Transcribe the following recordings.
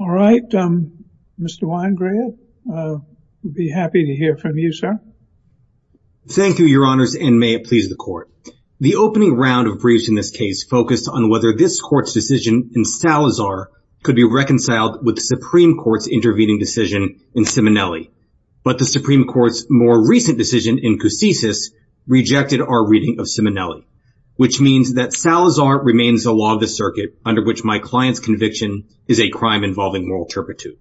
All right, Mr. Weingrab, I'll be happy to hear from you, sir. Thank you, Your Honors, and may it please the Court. The opening round of briefs in this case focused on whether this Court's decision in Salazar could be reconciled with the Supreme Court's intervening decision in Simonelli, but the Supreme Court's more recent decision in Coussis rejected our reading of Simonelli, which means that Salazar remains the law of the circuit under which my client's conviction is a crime involving moral turpitude.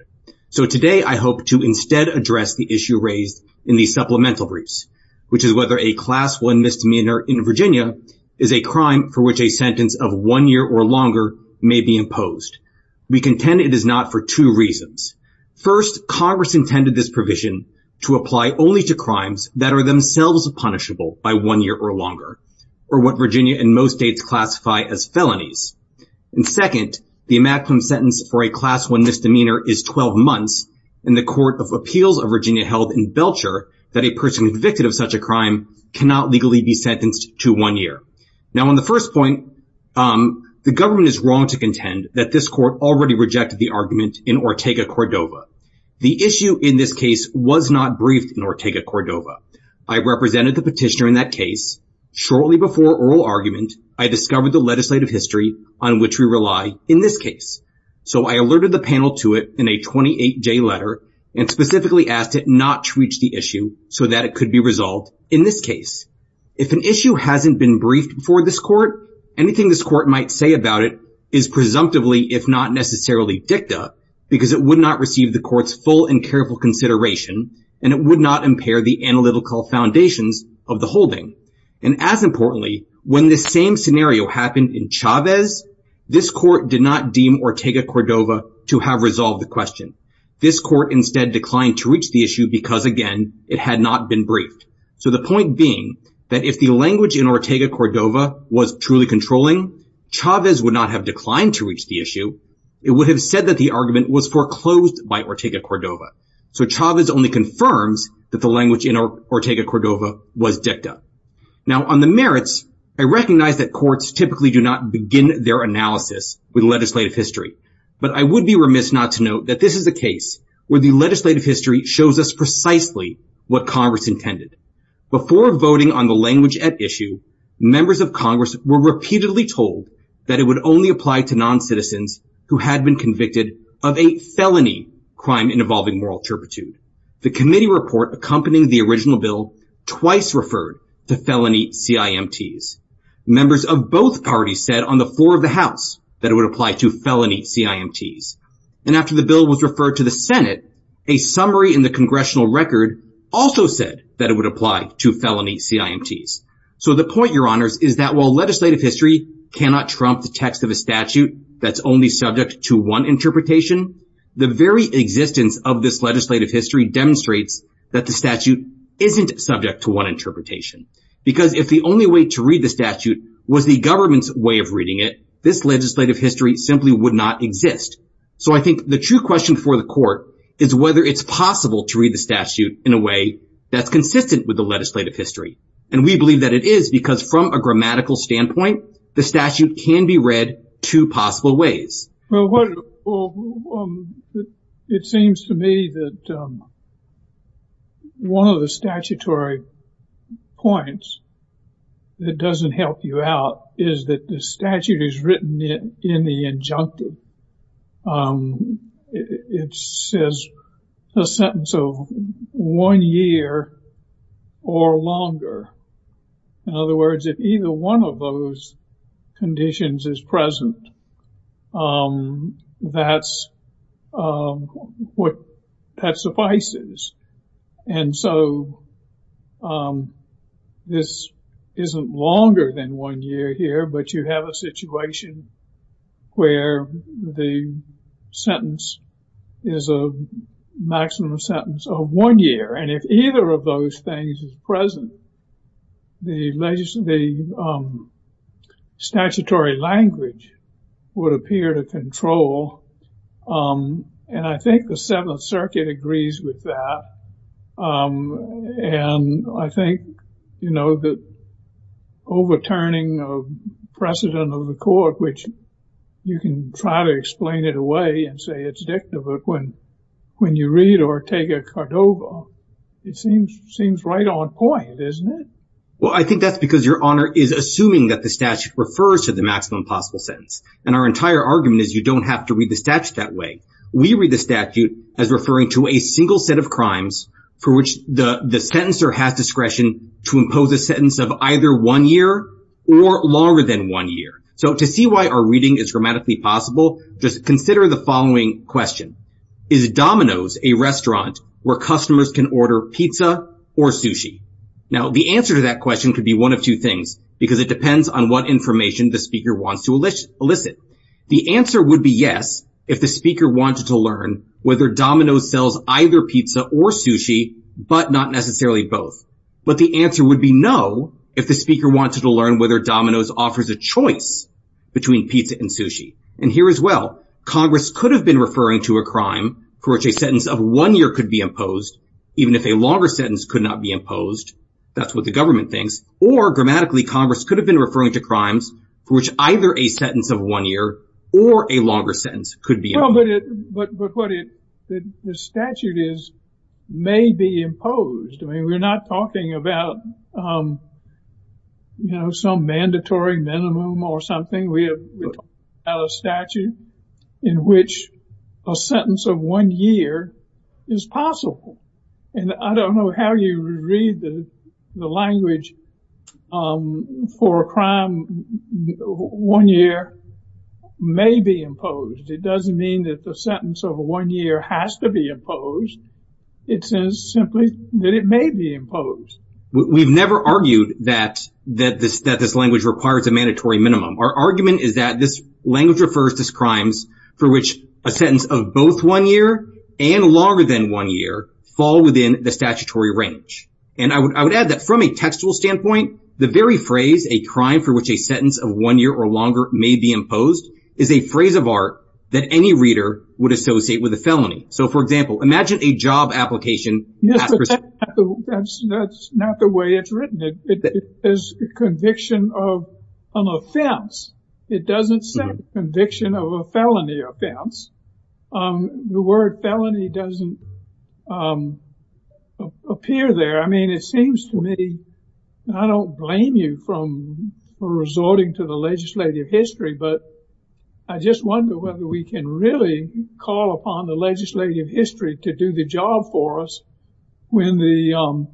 So today I hope to instead address the issue raised in the supplemental briefs, which is whether a Class I misdemeanor in Virginia is a crime for which a sentence of one year or longer may be imposed. We contend it is not for two reasons. First, Congress intended this provision to apply only to crimes that are themselves punishable by one year or longer, or what Virginia and most states classify as felonies. And second, the maximum sentence for a Class I misdemeanor is 12 months, and the Court of Appeals of Virginia held in Belcher that a person convicted of such a crime cannot legally be sentenced to one year. Now on the first point, the government is wrong to contend that this Court already rejected the argument in Ortega-Cordova. The issue in this case was not briefed in Ortega-Cordova. I represented the petitioner in that case. Shortly before oral argument, I discovered the legislative history on which we rely in this case. So I alerted the panel to it in a 28-J letter and specifically asked it not to reach the issue so that it could be resolved in this case. If an issue hasn't been briefed before this Court, anything this Court might say about it is presumptively, if not necessarily, dicta, because it would not receive the Court's full and careful consideration, and it would not impair the analytical foundations of the holding. And as importantly, when this same scenario happened in Chavez, this Court did not deem Ortega-Cordova to have resolved the question. This Court instead declined to reach the issue because, again, it had not been briefed. So the point being that if the language in Ortega-Cordova was truly controlling, Chavez would not have declined to reach the issue. It would have said that the argument was foreclosed by Ortega-Cordova. So Chavez only confirms that the language in Ortega-Cordova was dicta. Now, on the merits, I recognize that courts typically do not begin their analysis with legislative history, but I would be remiss not to note that this is a case where the legislative history shows us precisely what Congress intended. Before voting on the language at issue, members of Congress were repeatedly told that it would only apply to noncitizens who had been convicted of a felony crime involving moral turpitude. The committee report accompanying the original bill twice referred to felony CIMTs. Members of both parties said on the floor of the House that it would apply to felony CIMTs. And after the bill was referred to the Senate, a summary in the congressional record also said that it would apply to felony CIMTs. So the point, Your Honors, is that while legislative history cannot trump the text of a statute that's only subject to one interpretation, the very existence of this legislative history demonstrates that the statute isn't subject to one interpretation. Because if the only way to read the statute was the government's way of reading it, this legislative history simply would not exist. So I think the true question for the court is whether it's possible to read the statute in a way that's consistent with the legislative history. And we believe that it is because from a grammatical standpoint, the statute can be read two possible ways. Well, it seems to me that one of the statutory points that doesn't help you out is that the statute is written in the injunctive. It says a sentence of one year or longer. In other words, if either one of those conditions is present, that's what suffices. And so this isn't longer than one year here, but you have a situation where the sentence is a maximum sentence of one year. And if either of those things is present, the statutory language would appear to control. And I think the Seventh Circuit agrees with that. And I think, you know, the overturning of precedent of the court, which you can try to explain it away and say it's dicta, but when you read or take a Cordova, it seems right on point, isn't it? Well, I think that's because Your Honor is assuming that the statute refers to the maximum possible sentence. And our entire argument is you don't have to read the statute that way. We read the statute as referring to a single set of crimes for which the sentencer has discretion to impose a sentence of either one year or longer than one year. So to see why our reading is grammatically possible, just consider the following question. Is Domino's a restaurant where customers can order pizza or sushi? Now, the answer to that question could be one of two things, because it depends on what information the speaker wants to elicit. The answer would be yes if the speaker wanted to learn whether Domino's sells either pizza or sushi, but not necessarily both. But the answer would be no if the speaker wanted to learn whether Domino's offers a choice between pizza and sushi. And here as well, Congress could have been referring to a crime for which a sentence of one year could be imposed, even if a longer sentence could not be imposed. That's what the government thinks. Or grammatically, Congress could have been referring to crimes for which either a sentence of one year or a longer sentence could be imposed. But what the statute is may be imposed. I mean, we're not talking about, you know, some mandatory minimum or something. We have a statute in which a sentence of one year is possible. And I don't know how you read the language for a crime one year may be imposed. It doesn't mean that the sentence of one year has to be imposed. It says simply that it may be imposed. We've never argued that that this that this language requires a mandatory minimum. Our argument is that this language refers to crimes for which a sentence of both one year and longer than one year fall within the statutory range. And I would add that from a textual standpoint, the very phrase a crime for which a sentence of one year or longer may be imposed is a phrase of art that any reader would associate with a felony. So, for example, imagine a job application. That's not the way it's written. It is a conviction of an offense. It doesn't say conviction of a felony offense. The word felony doesn't appear there. I mean, it seems to me I don't blame you for resorting to the legislative history, but I just wonder whether we can really call upon the legislative history to do the job for us when the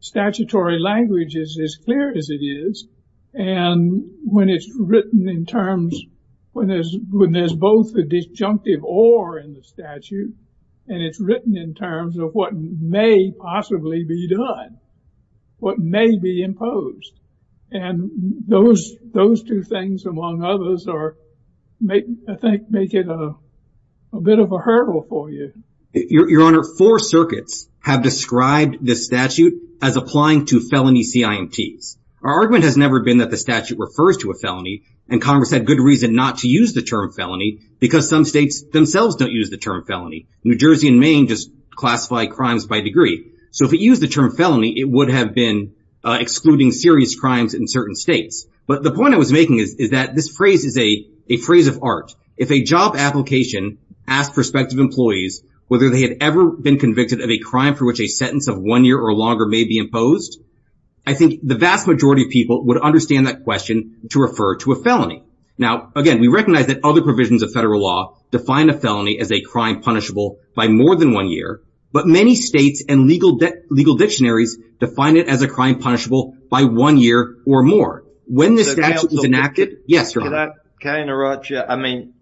statutory language is as clear as it is. And when it's written in terms when there's when there's both the disjunctive or in the statute, and it's written in terms of what may possibly be done, what may be imposed. And those those two things, among others, are make I think make it a bit of a hurdle for you. Your Honor, four circuits have described the statute as applying to felony CIMTs. Our argument has never been that the statute refers to a felony. And Congress had good reason not to use the term felony because some states themselves don't use the term felony. New Jersey and Maine just classify crimes by degree. So if you use the term felony, it would have been excluding serious crimes in certain states. But the point I was making is that this phrase is a phrase of art. If a job application asked prospective employees whether they had ever been convicted of a crime for which a sentence of one year or longer may be imposed. I think the vast majority of people would understand that question to refer to a felony. Now, again, we recognize that other provisions of federal law define a felony as a crime punishable by more than one year. But many states and legal that legal dictionaries define it as a crime punishable by one year or more. When the statute is enacted. Yes. Can I interrupt you? I mean,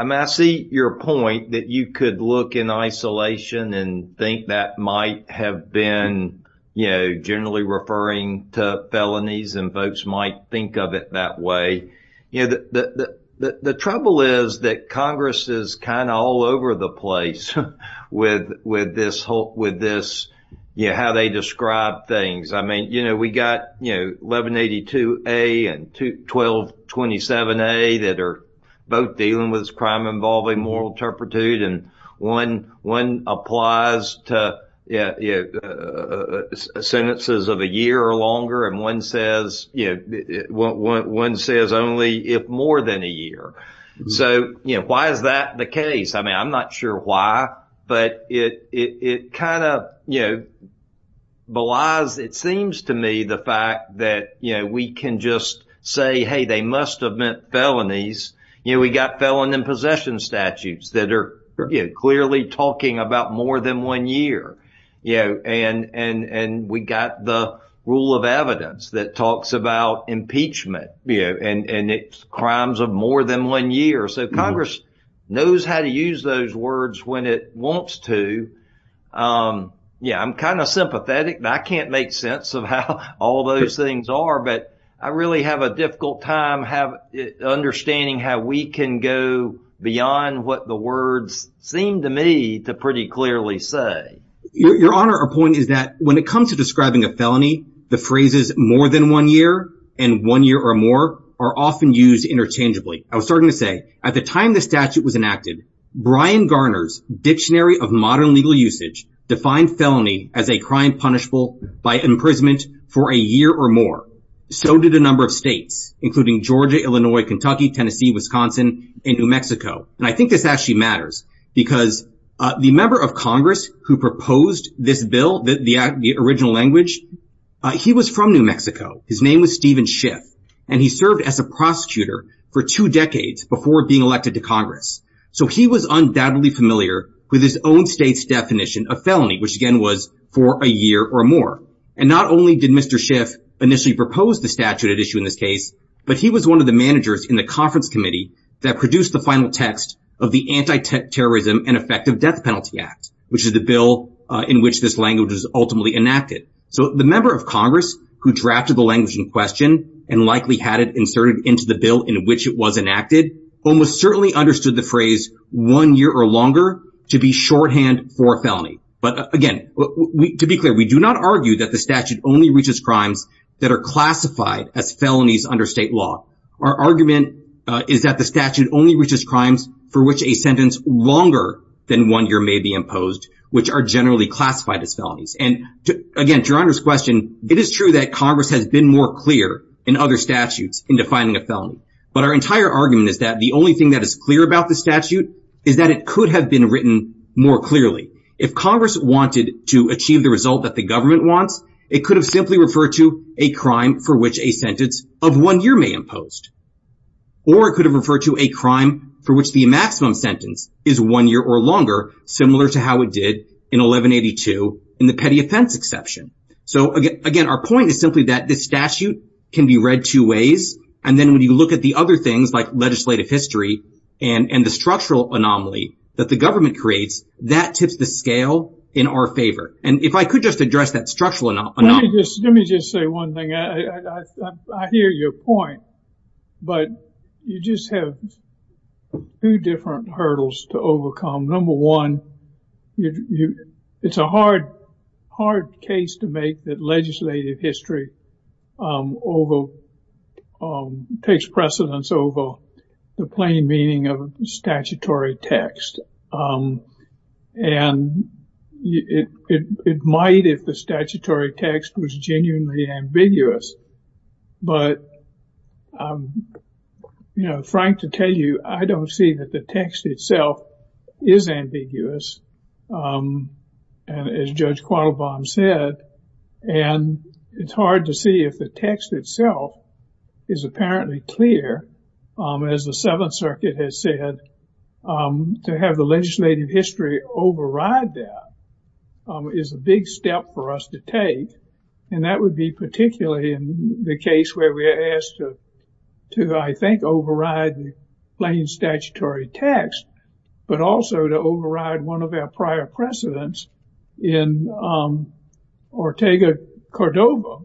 I see your point that you could look in isolation and think that might have been, you know, generally referring to felonies and folks might think of it that way. You know, the trouble is that Congress is kind of all over the place with this whole with this. Yeah. How they describe things. I mean, you know, we got, you know, 1182 A and 1227 A that are both dealing with this crime involving moral turpitude. And one one applies to sentences of a year or longer. And one says, you know, one says only if more than a year. So, you know, why is that the case? I mean, I'm not sure why. But it it kind of, you know, belies it seems to me the fact that, you know, we can just say, hey, they must have meant felonies. You know, we got felon in possession statutes that are clearly talking about more than one year. Yeah. And and we got the rule of evidence that talks about impeachment and crimes of more than one year. So Congress knows how to use those words when it wants to. Yeah, I'm kind of sympathetic. I can't make sense of how all those things are. But I really have a difficult time have understanding how we can go beyond what the words seem to me to pretty clearly say. Your Honor, our point is that when it comes to describing a felony, the phrases more than one year and one year or more are often used interchangeably. I was starting to say at the time the statute was enacted, Brian Garner's Dictionary of Modern Legal Usage defined felony as a crime punishable by imprisonment for a year or more. So did a number of states, including Georgia, Illinois, Kentucky, Tennessee, Wisconsin and New Mexico. And I think this actually matters because the member of Congress who proposed this bill, the original language, he was from New Mexico. His name was Stephen Schiff and he served as a prosecutor for two decades before being elected to Congress. So he was undoubtedly familiar with his own state's definition of felony, which again was for a year or more. And not only did Mr. Schiff initially propose the statute at issue in this case, but he was one of the managers in the conference committee that produced the final text of the Anti-Terrorism and Effective Death Penalty Act, which is the bill in which this language is ultimately enacted. So the member of Congress who drafted the language in question and likely had it inserted into the bill in which it was enacted, almost certainly understood the phrase one year or longer to be shorthand for a felony. But again, to be clear, we do not argue that the statute only reaches crimes that are classified as felonies under state law. Our argument is that the statute only reaches crimes for which a sentence longer than one year may be imposed, which are generally classified as felonies. And again, to your Honor's question, it is true that Congress has been more clear in other statutes in defining a felony. But our entire argument is that the only thing that is clear about the statute is that it could have been written more clearly. If Congress wanted to achieve the result that the government wants, it could have simply referred to a crime for which a sentence of one year may imposed. Or it could have referred to a crime for which the maximum sentence is one year or longer, similar to how it did in 1182 in the petty offense exception. So, again, our point is simply that the statute can be read two ways. And then when you look at the other things like legislative history and the structural anomaly that the government creates, that tips the scale in our favor. And if I could just address that structural anomaly. Let me just say one thing. I hear your point, but you just have two different hurdles to overcome. Number one, it's a hard, hard case to make that legislative history takes precedence over the plain meaning of statutory text. And it might if the statutory text was genuinely ambiguous. But, you know, frank to tell you, I don't see that the text itself is ambiguous. And as Judge Quattlebaum said, and it's hard to see if the text itself is apparently clear. As the Seventh Circuit has said, to have the legislative history override that is a big step for us to take. And that would be particularly in the case where we are asked to, I think, override the plain statutory text. But also to override one of our prior precedents in Ortega-Cordova,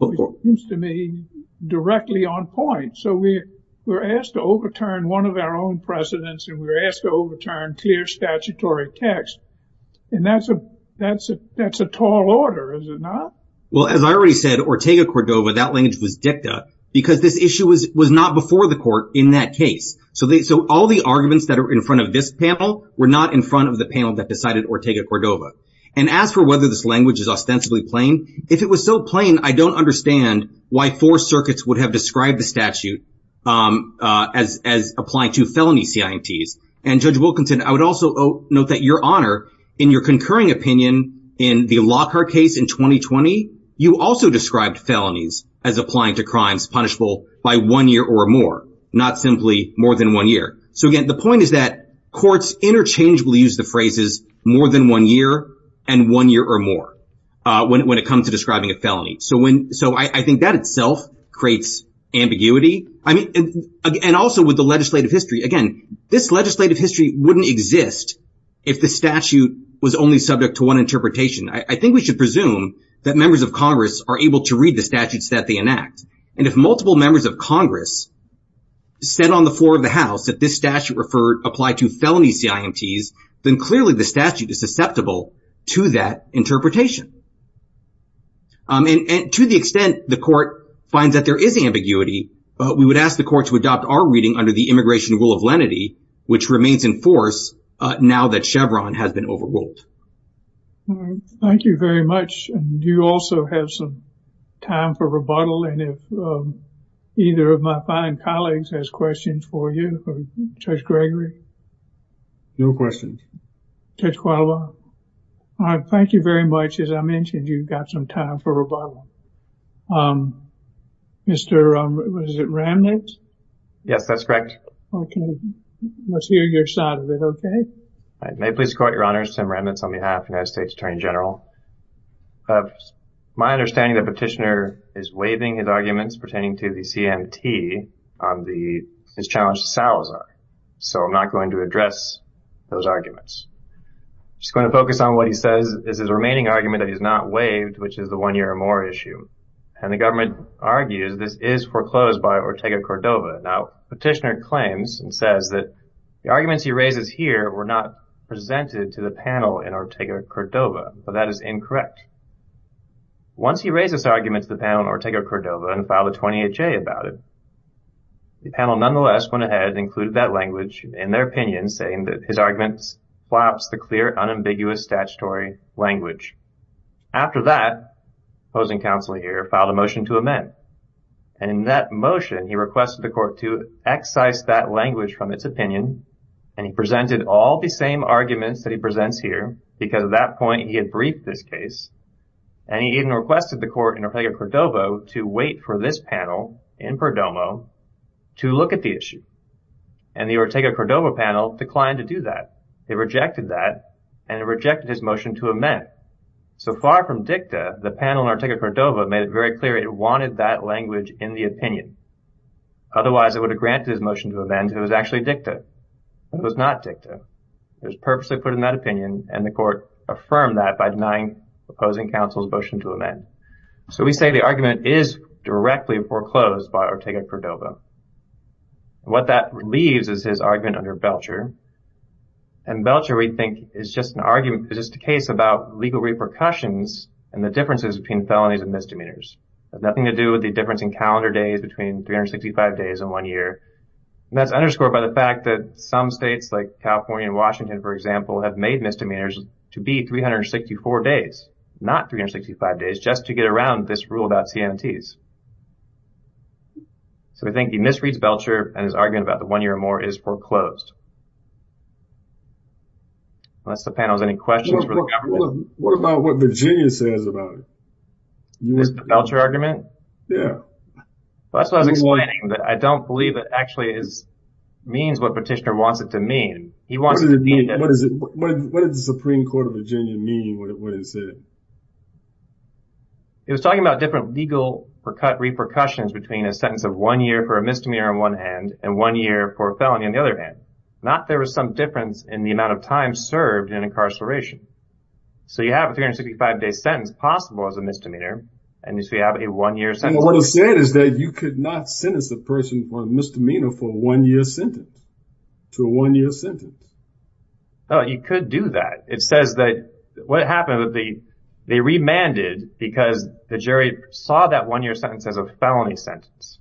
which seems to me directly on point. So we were asked to overturn one of our own precedents and we were asked to overturn clear statutory text. And that's a tall order, is it not? Well, as I already said, Ortega-Cordova, that language was dicta because this issue was not before the court in that case. So all the arguments that are in front of this panel were not in front of the panel that decided Ortega-Cordova. And as for whether this language is ostensibly plain, if it was so plain, I don't understand why four circuits would have described the statute as applying to felony CIMTs. And Judge Wilkinson, I would also note that your honor, in your concurring opinion in the Lockhart case in 2020, you also described felonies as applying to crimes punishable by one year or more, not simply more than one year. So, again, the point is that courts interchangeably use the phrases more than one year and one year or more when it comes to describing a felony. So when so I think that itself creates ambiguity. And also with the legislative history, again, this legislative history wouldn't exist if the statute was only subject to one interpretation. I think we should presume that members of Congress are able to read the statutes that they enact. And if multiple members of Congress said on the floor of the House that this statute referred applied to felony CIMTs, then clearly the statute is susceptible to that interpretation. And to the extent the court finds that there is ambiguity, we would ask the court to adopt our reading under the immigration rule of lenity, which remains in force now that Chevron has been overruled. Thank you very much. Do you also have some time for rebuttal? And if either of my fine colleagues has questions for you, Judge Gregory? No questions. Judge Qualbaugh? Thank you very much. As I mentioned, you've got some time for rebuttal. Mr. Ramnitz? Yes, that's correct. Okay. Let's hear your side of it, okay? May it please the Court, Your Honor. Sam Ramnitz on behalf of the United States Attorney General. My understanding is that Petitioner is waiving his arguments pertaining to the CIMT on his challenge to Salazar. So I'm not going to address those arguments. I'm just going to focus on what he says is his remaining argument that he's not waived, which is the one-year-or-more issue. And the government argues this is foreclosed by Ortega-Cordova. Now, Petitioner claims and says that the arguments he raises here were not presented to the panel in Ortega-Cordova, but that is incorrect. Once he raises arguments to the panel in Ortega-Cordova and filed a 28-J about it, the panel nonetheless went ahead and included that language in their opinion, saying that his argument flops the clear, unambiguous statutory language. After that, the opposing counsel here filed a motion to amend. And in that motion, he requested the court to excise that language from its opinion. And he presented all the same arguments that he presents here, because at that point he had briefed this case. And he even requested the court in Ortega-Cordova to wait for this panel in Perdomo to look at the issue. And the Ortega-Cordova panel declined to do that. It rejected that, and it rejected his motion to amend. So far from dicta, the panel in Ortega-Cordova made it very clear it wanted that language in the opinion. Otherwise, it would have granted his motion to amend if it was actually dicta. It was not dicta. It was purposely put in that opinion, and the court affirmed that by denying the opposing counsel's motion to amend. So we say the argument is directly foreclosed by Ortega-Cordova. What that leaves is his argument under Belcher. And Belcher, we think, is just an argument. It's just a case about legal repercussions and the differences between felonies and misdemeanors. It has nothing to do with the difference in calendar days between 365 days and one year. And that's underscored by the fact that some states, like California and Washington, for example, have made misdemeanors to be 364 days, not 365 days, just to get around this rule about CMTs. So we think he misreads Belcher and his argument about the one year or more is foreclosed. Unless the panel has any questions for the government. What about what Virginia says about it? The Belcher argument? Yeah. That's what I was explaining. I don't believe it actually means what Petitioner wants it to mean. What did the Supreme Court of Virginia mean when it said it? It was talking about different legal repercussions between a sentence of one year for a misdemeanor on one hand and one year for a felony on the other hand. Not there was some difference in the amount of time served in incarceration. So you have a 365-day sentence possible as a misdemeanor, and so you have a one-year sentence. What it said is that you could not sentence a person for a misdemeanor for a one-year sentence. To a one-year sentence. No, you could do that. It says that what happened was they remanded because the jury saw that one-year sentence as a felony sentence,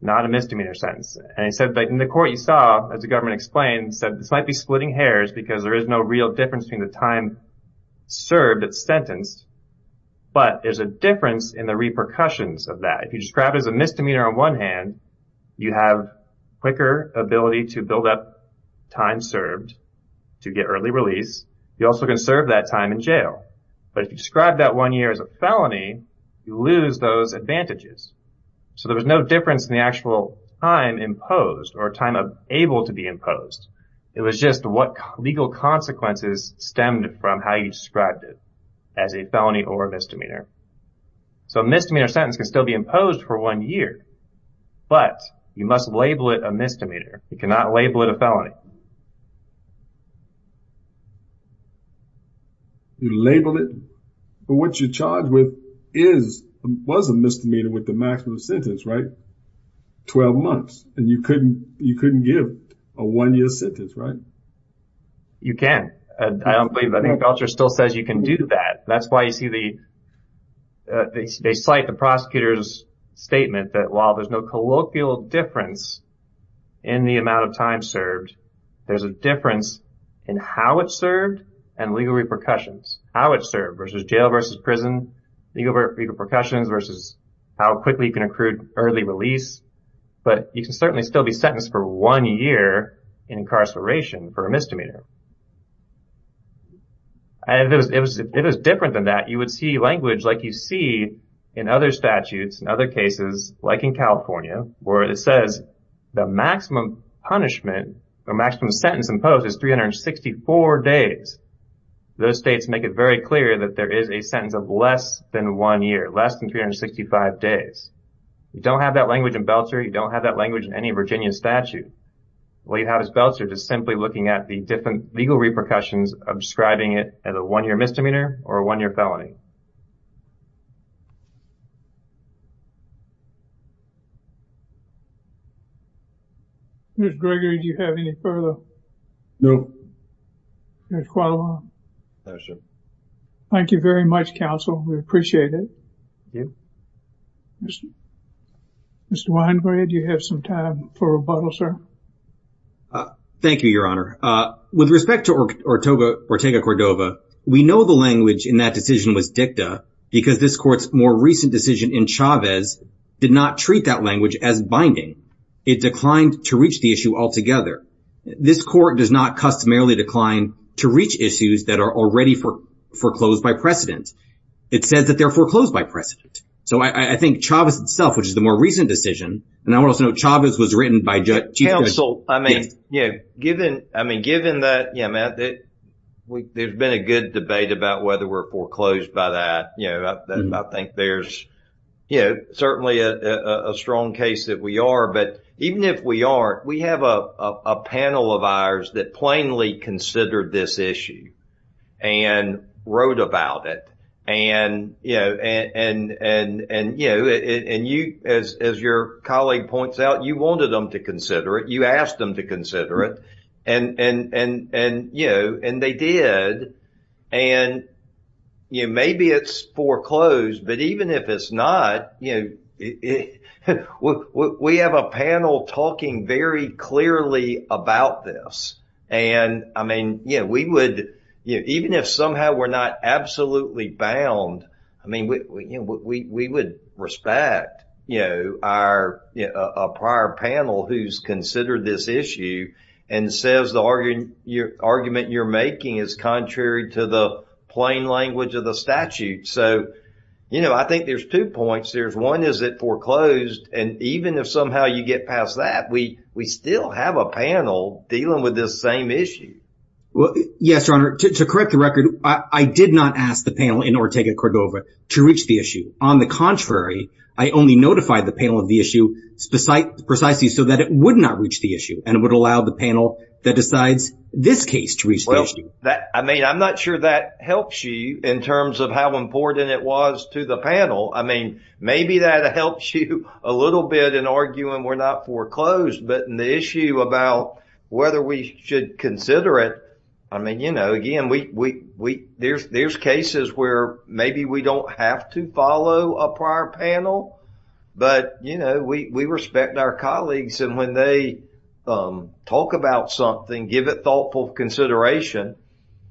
not a misdemeanor sentence. And they said that in the court you saw, as the government explained, said this might be splitting hairs because there is no real difference between the time served that's sentenced, but there's a difference in the repercussions of that. If you describe it as a misdemeanor on one hand, you have quicker ability to build up time served to get early release. You also can serve that time in jail. But if you describe that one year as a felony, you lose those advantages. So there was no difference in the actual time imposed or time able to be imposed. It was just what legal consequences stemmed from how you described it as a felony or a misdemeanor. So a misdemeanor sentence can still be imposed for one year. But you must label it a misdemeanor. You cannot label it a felony. You label it. But what you're charged with was a misdemeanor with the maximum sentence, right? Twelve months. And you couldn't give a one-year sentence, right? You can. I don't believe that. The culture still says you can do that. That's why you see they cite the prosecutor's statement that while there's no colloquial difference in the amount of time served, there's a difference in how it's served and legal repercussions. How it's served versus jail versus prison, legal repercussions versus how quickly you can accrue early release. But you can certainly still be sentenced for one year in incarceration for a misdemeanor. And if it was different than that, you would see language like you see in other statutes, in other cases, like in California, where it says the maximum punishment or maximum sentence imposed is 364 days. Those states make it very clear that there is a sentence of less than one year, less than 365 days. You don't have that language in Belcher. You don't have that language in any Virginia statute. We have as Belcher just simply looking at the different legal repercussions of describing it as a one-year misdemeanor or a one-year felony. Mr. Gregory, do you have any further? No. There's quite a lot. Thank you very much, counsel. We appreciate it. Thank you. Mr. Weinberg, do you have some time for rebuttal, sir? Thank you, Your Honor. With respect to Ortega-Cordova, we know the language in that decision was dicta because this court's more recent decision in Chavez did not treat that language as binding. It declined to reach the issue altogether. This court does not customarily decline to reach issues that are already foreclosed by precedent. It says that they're foreclosed by precedent. So I think Chavez itself, which is the more recent decision, and I want to also note Chavez was written by Chief Justice. Counsel, I mean, given that, yeah, Matt, there's been a good debate about whether we're foreclosed by that. I think there's certainly a strong case that we are. But even if we aren't, we have a panel of ours that plainly considered this issue and wrote about it. And, you know, as your colleague points out, you wanted them to consider it. You asked them to consider it. And, you know, and they did. And, you know, maybe it's foreclosed. But even if it's not, you know, we have a panel talking very clearly about this. And I mean, you know, we would even if somehow we're not absolutely bound. I mean, we would respect, you know, our prior panel who's considered this issue and says the argument you're making is contrary to the plain language of the statute. So, you know, I think there's two points. There's one, is it foreclosed? And even if somehow you get past that, we still have a panel dealing with this same issue. Well, yes, Your Honor, to correct the record, I did not ask the panel in Ortega-Cordova to reach the issue. On the contrary, I only notified the panel of the issue precisely so that it would not reach the issue and would allow the panel that decides this case to reach the issue. I mean, I'm not sure that helps you in terms of how important it was to the panel. I mean, maybe that helps you a little bit in arguing we're not foreclosed. But in the issue about whether we should consider it, I mean, you know, again, there's cases where maybe we don't have to follow a prior panel. But, you know, we respect our colleagues. And when they talk about something, give it thoughtful consideration,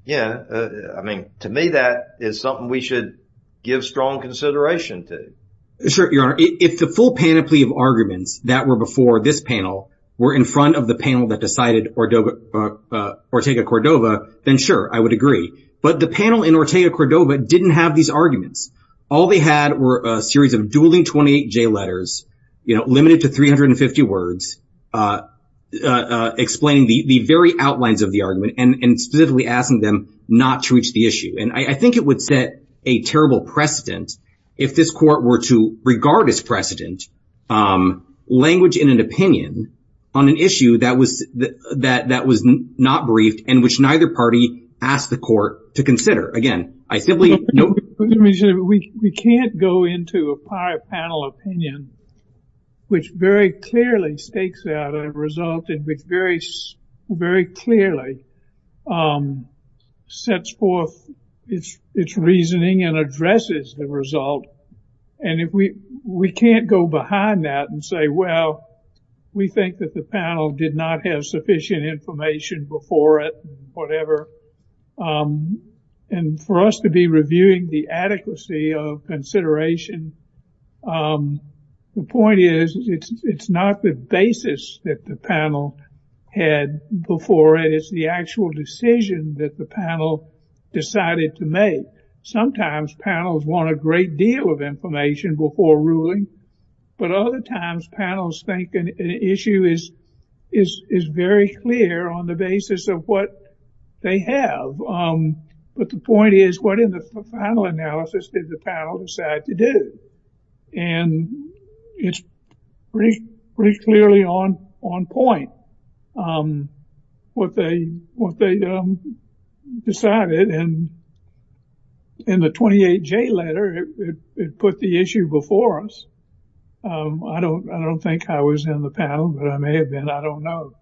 you know, I mean, to me, that is something we should give strong consideration to. Sure, Your Honor. If the full panoply of arguments that were before this panel were in front of the panel that decided Ortega-Cordova, then sure, I would agree. But the panel in Ortega-Cordova didn't have these arguments. All they had were a series of dueling 28-J letters, you know, limited to 350 words, explaining the very outlines of the argument and specifically asking them not to reach the issue. And I think it would set a terrible precedent if this court were to regard as precedent language in an opinion on an issue that was not briefed and which neither party asked the court to consider. We can't go into a prior panel opinion, which very clearly stakes out a result and which very, very clearly sets forth its reasoning and addresses the result. And we can't go behind that and say, well, we think that the panel did not have sufficient information before it, whatever. And for us to be reviewing the adequacy of consideration, the point is, it's not the basis that the panel had before it. It's the actual decision that the panel decided to make. Sometimes panels want a great deal of information before ruling, but other times panels think an issue is very clear on the basis of what they have. But the point is, what in the final analysis did the panel decide to do? And it's pretty clearly on point, what they decided. And in the 28J letter, it put the issue before us. I don't think I was in the panel, but I may have been. I don't know.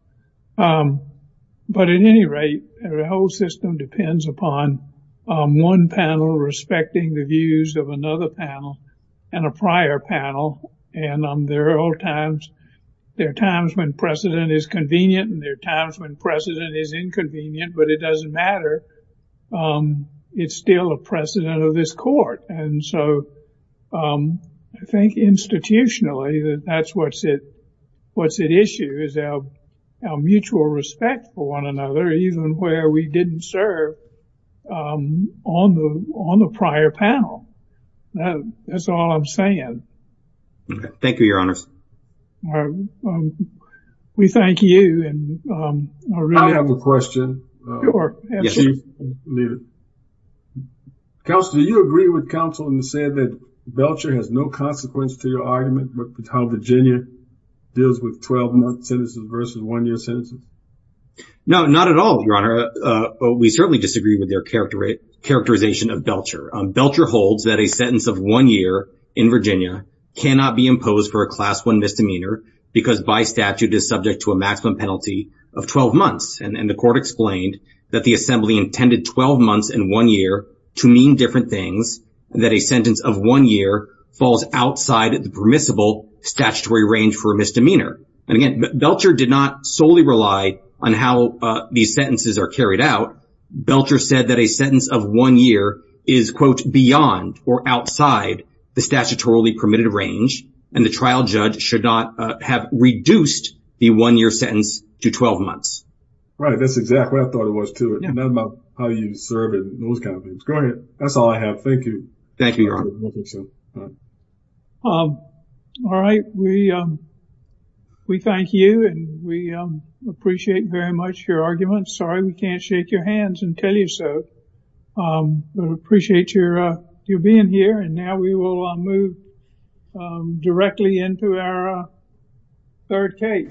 But at any rate, the whole system depends upon one panel respecting the views of another panel and a prior panel. And there are times when precedent is convenient and there are times when precedent is inconvenient, but it doesn't matter. It's still a precedent of this court. And so I think institutionally, that's what's at issue is our mutual respect for one another, even where we didn't serve on the prior panel. That's all I'm saying. Thank you, Your Honors. We thank you. I have a question. Sure. Counsel, do you agree with counsel in saying that Belcher has no consequence to your argument with how Virginia deals with 12-month sentences versus one-year sentences? No, not at all, Your Honor. We certainly disagree with their characterization of Belcher. Belcher holds that a sentence of one year in Virginia cannot be imposed for a Class I misdemeanor because by statute is subject to a maximum penalty of 12 months. And the court explained that the Assembly intended 12 months and one year to mean different things, that a sentence of one year falls outside the permissible statutory range for a misdemeanor. And again, Belcher did not solely rely on how these sentences are carried out. Belcher said that a sentence of one year is, quote, beyond or outside the statutorily permitted range, and the trial judge should not have reduced the one-year sentence to 12 months. Right. That's exactly what I thought it was, too. It's not about how you serve and those kind of things. Go ahead. That's all I have. Thank you. Thank you, Your Honor. All right. We thank you, and we appreciate very much your argument. I'm sorry we can't shake your hands and tell you so. We appreciate you being here, and now we will move directly into our third case.